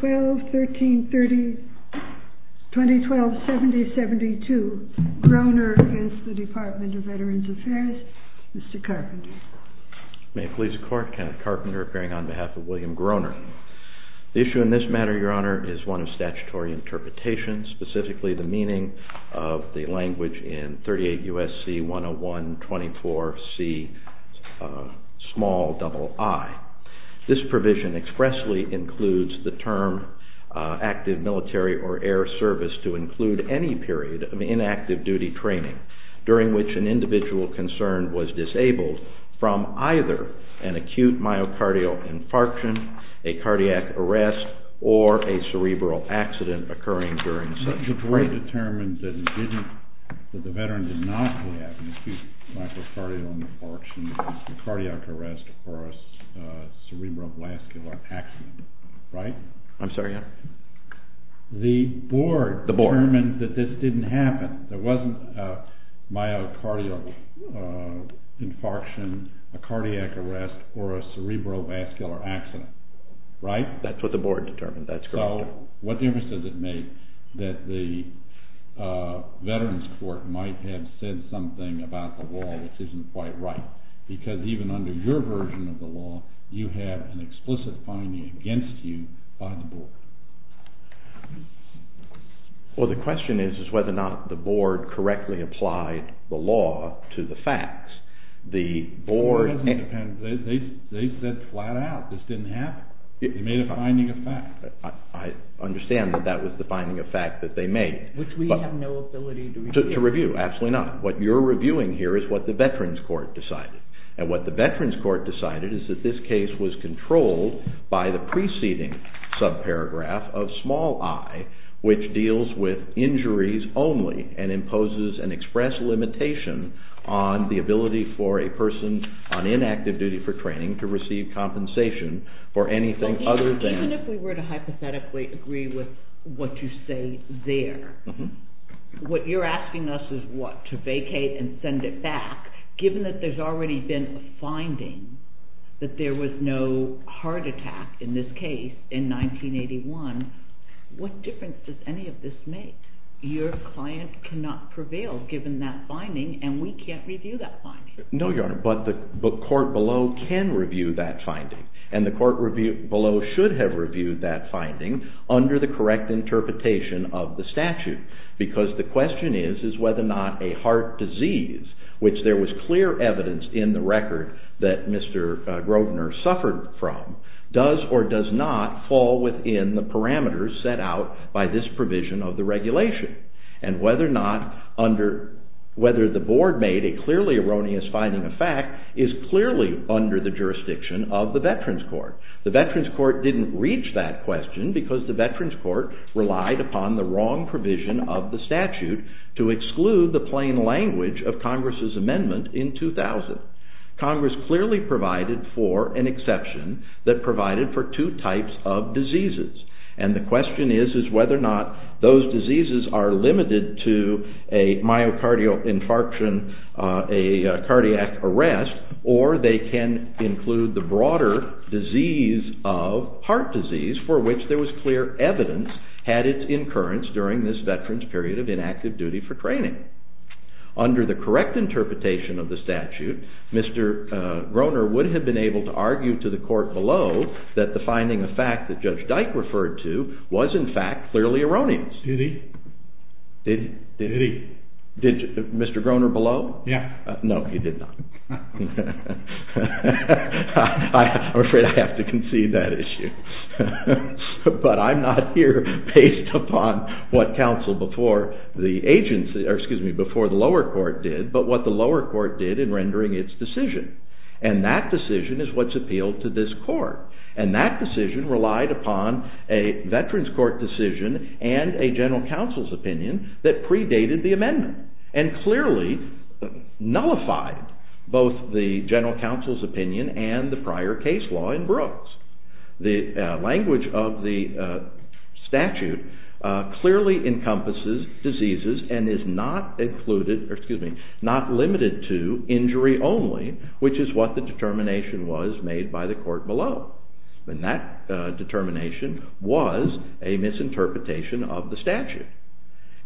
12-13-2012-70-72 Groner v. Department of Veterans Affairs Mr. Carpenter May it please the court, Kenneth Carpenter appearing on behalf of William Groner. The issue in this matter, your honor, is one of statutory interpretation, specifically the meaning of the language in 38 U.S.C. 101-24-c-i. This provision expressly includes the term active military or air service to include any period of inactive duty training during which an individual concerned was disabled from either an acute myocardial infarction, a cardiac arrest, or a cerebral accident occurring during such training. The board determined that the veteran did not have an acute myocardial infarction, a cardiac arrest, or a cerebrovascular accident, right? I'm sorry, yeah? The board determined that this didn't happen. There wasn't a myocardial infarction, a cardiac arrest, or a cerebrovascular accident, right? That's what the board determined, that's correct. So what difference does it make that the veterans court might have said something about the law that isn't quite right? Because even under your version of the law, you have an explicit finding against you by the board. Well the question is whether or not the board correctly applied the law to the facts. Well it doesn't depend, they said flat out this didn't happen. They made a finding of fact. I understand that that was the finding of fact that they made. Which we have no ability to review. To review, absolutely not. What you're reviewing here is what the veterans court decided. And what the veterans court decided is that this case was controlled by the preceding subparagraph of small i, which deals with injuries only and imposes an express limitation on the ability for a person on inactive duty for training to receive compensation for anything other than... Even if we were to hypothetically agree with what you say there, what you're asking us is what? To vacate and send it back? Given that there's already been a finding that there was no heart attack in this case in 1981, what difference does any of this make? Your client cannot prevail given that finding and we can't review that finding. No your honor, but the court below can review that finding. And the court below should have reviewed that finding under the correct interpretation of the statute. Because the question is whether or not a heart disease, which there was clear evidence in the record that Mr. Grosvenor suffered from, does or does not fall within the parameters set out by this provision of the regulation. And whether or not the board made a clearly erroneous finding of fact is clearly under the jurisdiction of the veterans court. The veterans court didn't reach that question because the veterans court relied upon the wrong provision of the statute to exclude the plain language of Congress' amendment in 2000. Congress clearly provided for an exception that provided for two types of diseases. And the question is whether or not those diseases are limited to a myocardial infarction, a cardiac arrest, or they can include the broader disease of heart disease for which there was clear evidence had its incurrence during this veteran's period of inactive duty for training. Under the correct interpretation of the statute, Mr. Grosvenor would have been able to argue to the court below that the finding of fact that Judge Dyke referred to was in fact clearly erroneous. Did he? Did he? Did he? Did Mr. Grosvenor below? Yeah. No, he did not. I'm afraid I have to concede that issue. But I'm not here based upon what counsel before the lower court did, but what the lower court did in rendering its decision. And that decision is what's appealed to this court. And that decision relied upon a veterans court decision and a general counsel's opinion that predated the amendment. And clearly nullified both the general counsel's opinion and the prior case law in Brooks. The language of the statute clearly encompasses diseases and is not limited to injury only, which is what the determination was made by the court below. And that determination was a misinterpretation of the statute.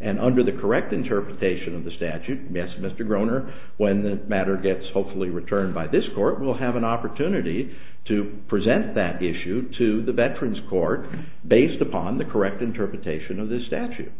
And under the correct interpretation of the statute, yes, Mr. Grosvenor, when the matter gets hopefully returned by this court, we'll have an opportunity to present that issue to the veterans court based upon the correct interpretation of this statute.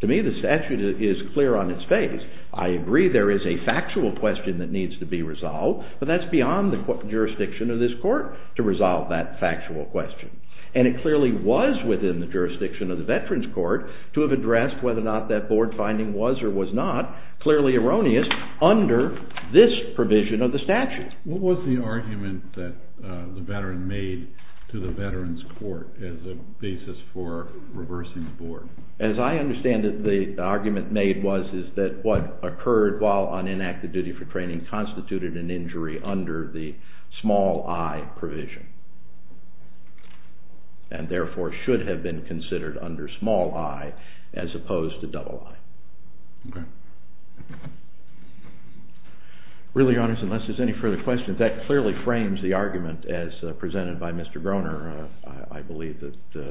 To me, the statute is clear on its face. I agree there is a factual question that needs to be resolved, but that's beyond the jurisdiction of this court to resolve that factual question. And it clearly was within the jurisdiction of the veterans court to have addressed whether or not that board finding was or was not clearly erroneous under this provision of the statute. What was the argument that the veteran made to the veterans court as a basis for reversing the board? As I understand it, the argument made was that what occurred while on inactive duty for training constituted an injury under the small i provision, and therefore should have been considered under small i as opposed to double i. Really, Your Honor, unless there's any further questions, that clearly frames the argument as presented by Mr. Grosvenor, I believe. Okay,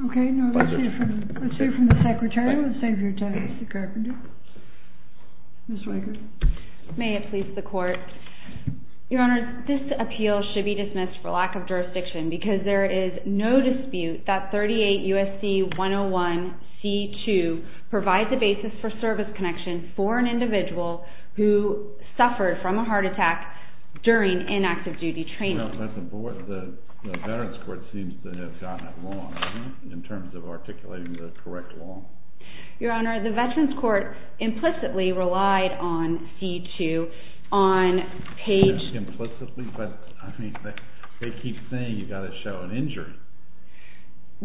let's hear from the secretary. Ms. Riker. May it please the court. Your Honor, this appeal should be dismissed for lack of jurisdiction because there is no dispute that 38 U.S.C. 101 C2 provides a basis for service connection for an individual who suffered from a heart attack during inactive duty training. But the veterans court seems to have gotten it wrong in terms of articulating the correct law. Your Honor, the veterans court implicitly relied on C2 on page... Implicitly? But, I mean, they keep saying you've got to show an injury.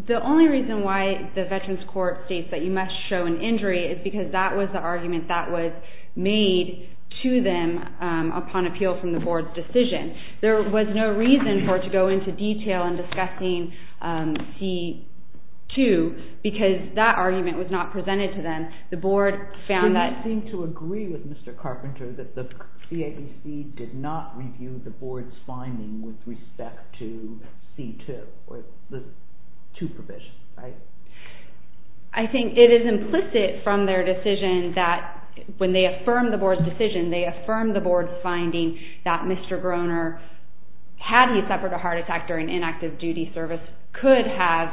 The only reason why the veterans court states that you must show an injury is because that was the argument that was made to them upon appeal from the board's decision. There was no reason for it to go into detail in discussing C2 because that argument was not presented to them. The board found that... They seem to agree with Mr. Carpenter that the CABC did not review the board's finding with respect to C2 or the two provisions, right? I think it is implicit from their decision that when they affirmed the board's decision, they affirmed the board's finding that Mr. Groner, had he suffered a heart attack during inactive duty service, could have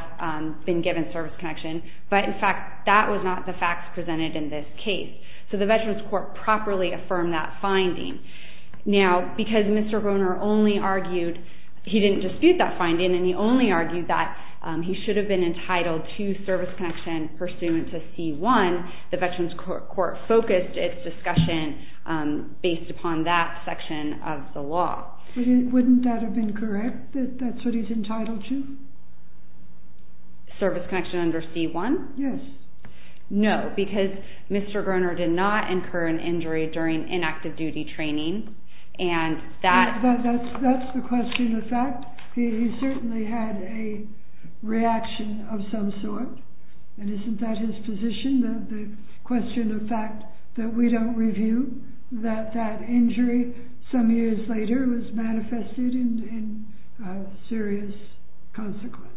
been given service connection. But, in fact, that was not the facts presented in this case. So the veterans court properly affirmed that finding. Now, because Mr. Groner only argued... He didn't dispute that finding and he only argued that he should have been entitled to service connection pursuant to C1, the veterans court focused its discussion based upon that section of the law. Wouldn't that have been correct, that that's what he's entitled to? Service connection under C1? Yes. No, because Mr. Groner did not incur an injury during inactive duty training and that... That's the question of fact. He certainly had a reaction of some sort. And isn't that his position, the question of fact that we don't review that that injury some years later was manifested in serious consequence?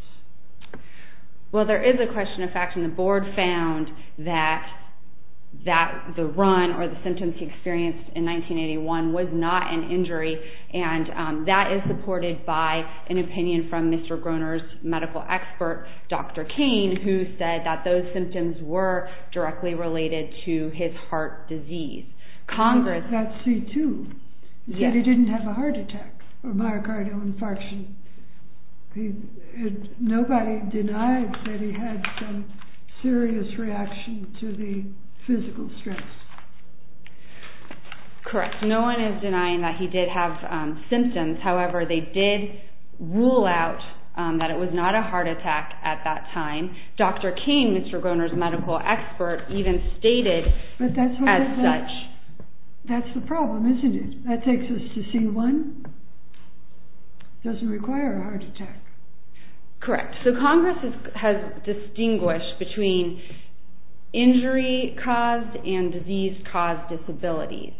Well, there is a question of fact and the board found that the run or the symptoms he experienced in 1981 was not an injury and that is supported by an opinion from Mr. Groner's medical expert, Dr. Cain, who said that those symptoms were directly related to his heart disease. That's C2, that he didn't have a heart attack or myocardial infarction. Nobody denied that he had some serious reaction to the physical stress. Correct. No one is denying that he did have symptoms. However, they did rule out that it was not a heart attack at that time. Dr. Cain, Mr. Groner's medical expert, even stated as such. But that's the problem, isn't it? That takes us to C1? Doesn't require a heart attack. Correct. So Congress has distinguished between injury-caused and disease-caused disabilities.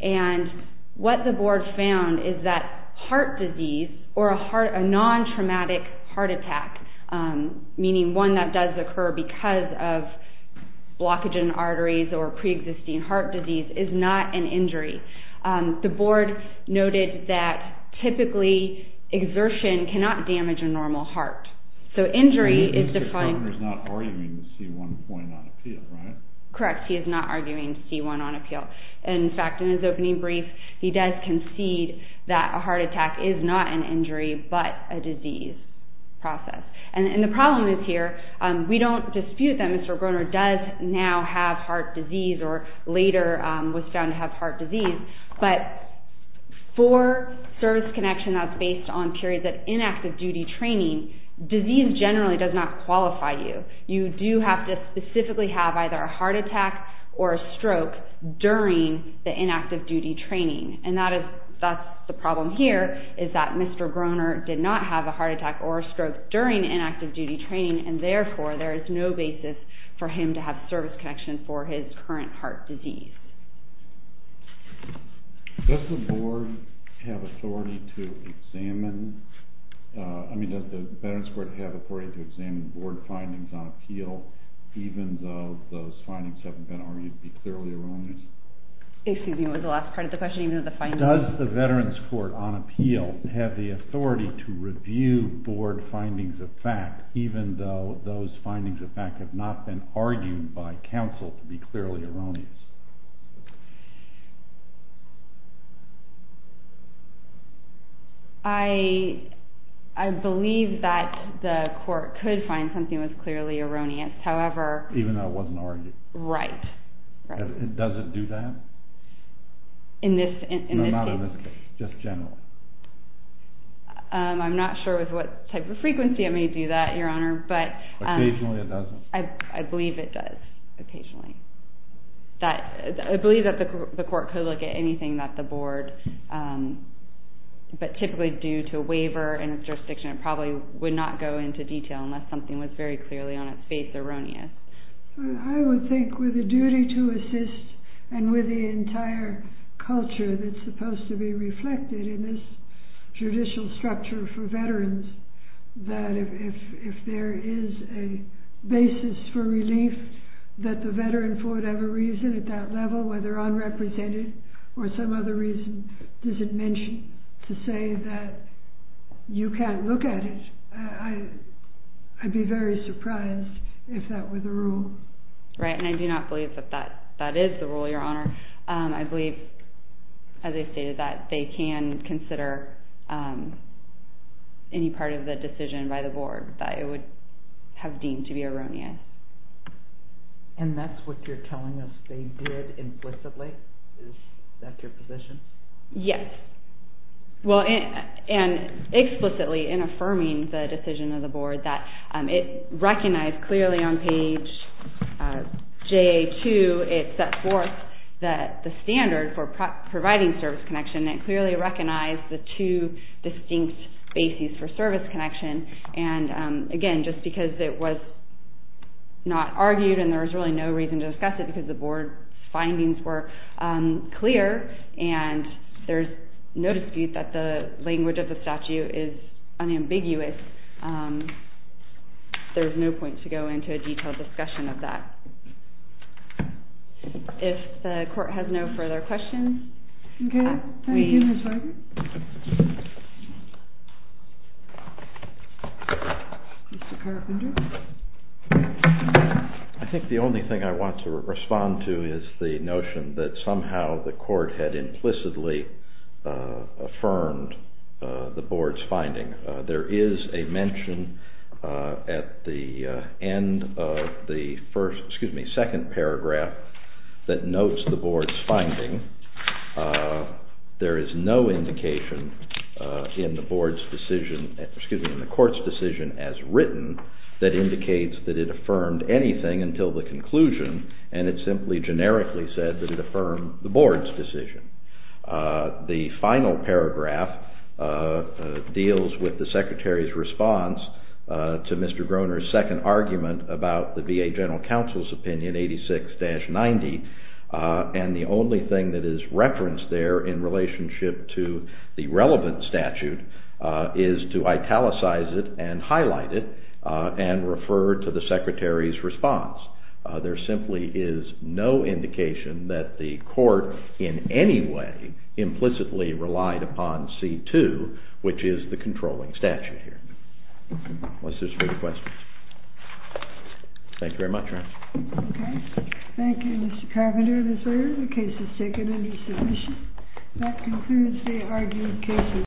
And what the board found is that heart disease or a non-traumatic heart attack, meaning one that does occur because of blockage in arteries or pre-existing heart disease, is not an injury. The board noted that typically exertion cannot damage a normal heart. So injury is defined... Mr. Groner is not arguing C1 on appeal, right? Correct. He is not arguing C1 on appeal. In fact, in his opening brief, he does concede that a heart attack is not an injury but a disease process. And the problem is here, we don't dispute that Mr. Groner does now have heart disease or later was found to have heart disease. But for service connection that's based on periods of inactive duty training, disease generally does not qualify you. You do have to specifically have either a heart attack or a stroke during the inactive duty training. And that's the problem here, is that Mr. Groner did not have a heart attack or a stroke during inactive duty training, and therefore there is no basis for him to have service connection for his current heart disease. Does the board have authority to examine, I mean does the Veterans Court have authority to examine board findings on appeal, even though those findings have been argued to be clearly erroneous? Excuse me, what was the last part of the question? Does the Veterans Court on appeal have the authority to review board findings of fact, even though those findings of fact have not been argued by counsel to be clearly erroneous? I believe that the court could find something that was clearly erroneous, however... Even though it wasn't argued? Right. Does it do that? In this case? No, not in this case, just generally. I'm not sure with what type of frequency it may do that, Your Honor, but... Occasionally it doesn't. I believe it does, occasionally. I believe that the court could look at anything that the board, but typically due to a waiver in its jurisdiction, it probably would not go into detail unless something was very clearly on its face erroneous. I would think with a duty to assist and with the entire culture that's supposed to be reflected in this judicial structure for veterans, that if there is a basis for relief that the veteran, for whatever reason at that level, whether unrepresented or some other reason, doesn't mention to say that you can't look at it, I'd be very surprised if that were the rule. Right, and I do not believe that that is the rule, Your Honor. I believe, as I stated, that they can consider any part of the decision by the board that it would have deemed to be erroneous. And that's what you're telling us they did implicitly? Is that your position? Yes. Well, and explicitly in affirming the decision of the board that it recognized clearly on page JA2, it set forth the standard for providing service connection. It clearly recognized the two distinct bases for service connection. And, again, just because it was not argued and there was really no reason to discuss it because the board's findings were clear and there's no dispute that the language of the statute is unambiguous, there's no point to go into a detailed discussion of that. If the court has no further questions, please. Okay. Thank you, Ms. Wagner. Mr. Carpenter. I think the only thing I want to respond to is the notion that somehow the court had implicitly affirmed the board's finding. There is a mention at the end of the second paragraph that notes the board's finding. There is no indication in the court's decision as written that indicates that it affirmed anything until the conclusion, and it simply generically said that it affirmed the board's decision. The final paragraph deals with the Secretary's response to Mr. Groner's second argument about the VA General Counsel's opinion, 86-90. And the only thing that is referenced there in relationship to the relevant statute is to italicize it and highlight it and refer to the Secretary's response. There simply is no indication that the court in any way implicitly relied upon C-2, which is the controlling statute here. Unless there's further questions. Thank you very much. Okay. Thank you, Mr. Carpenter. This hearing, the case is taken under submission. That concludes the argued cases.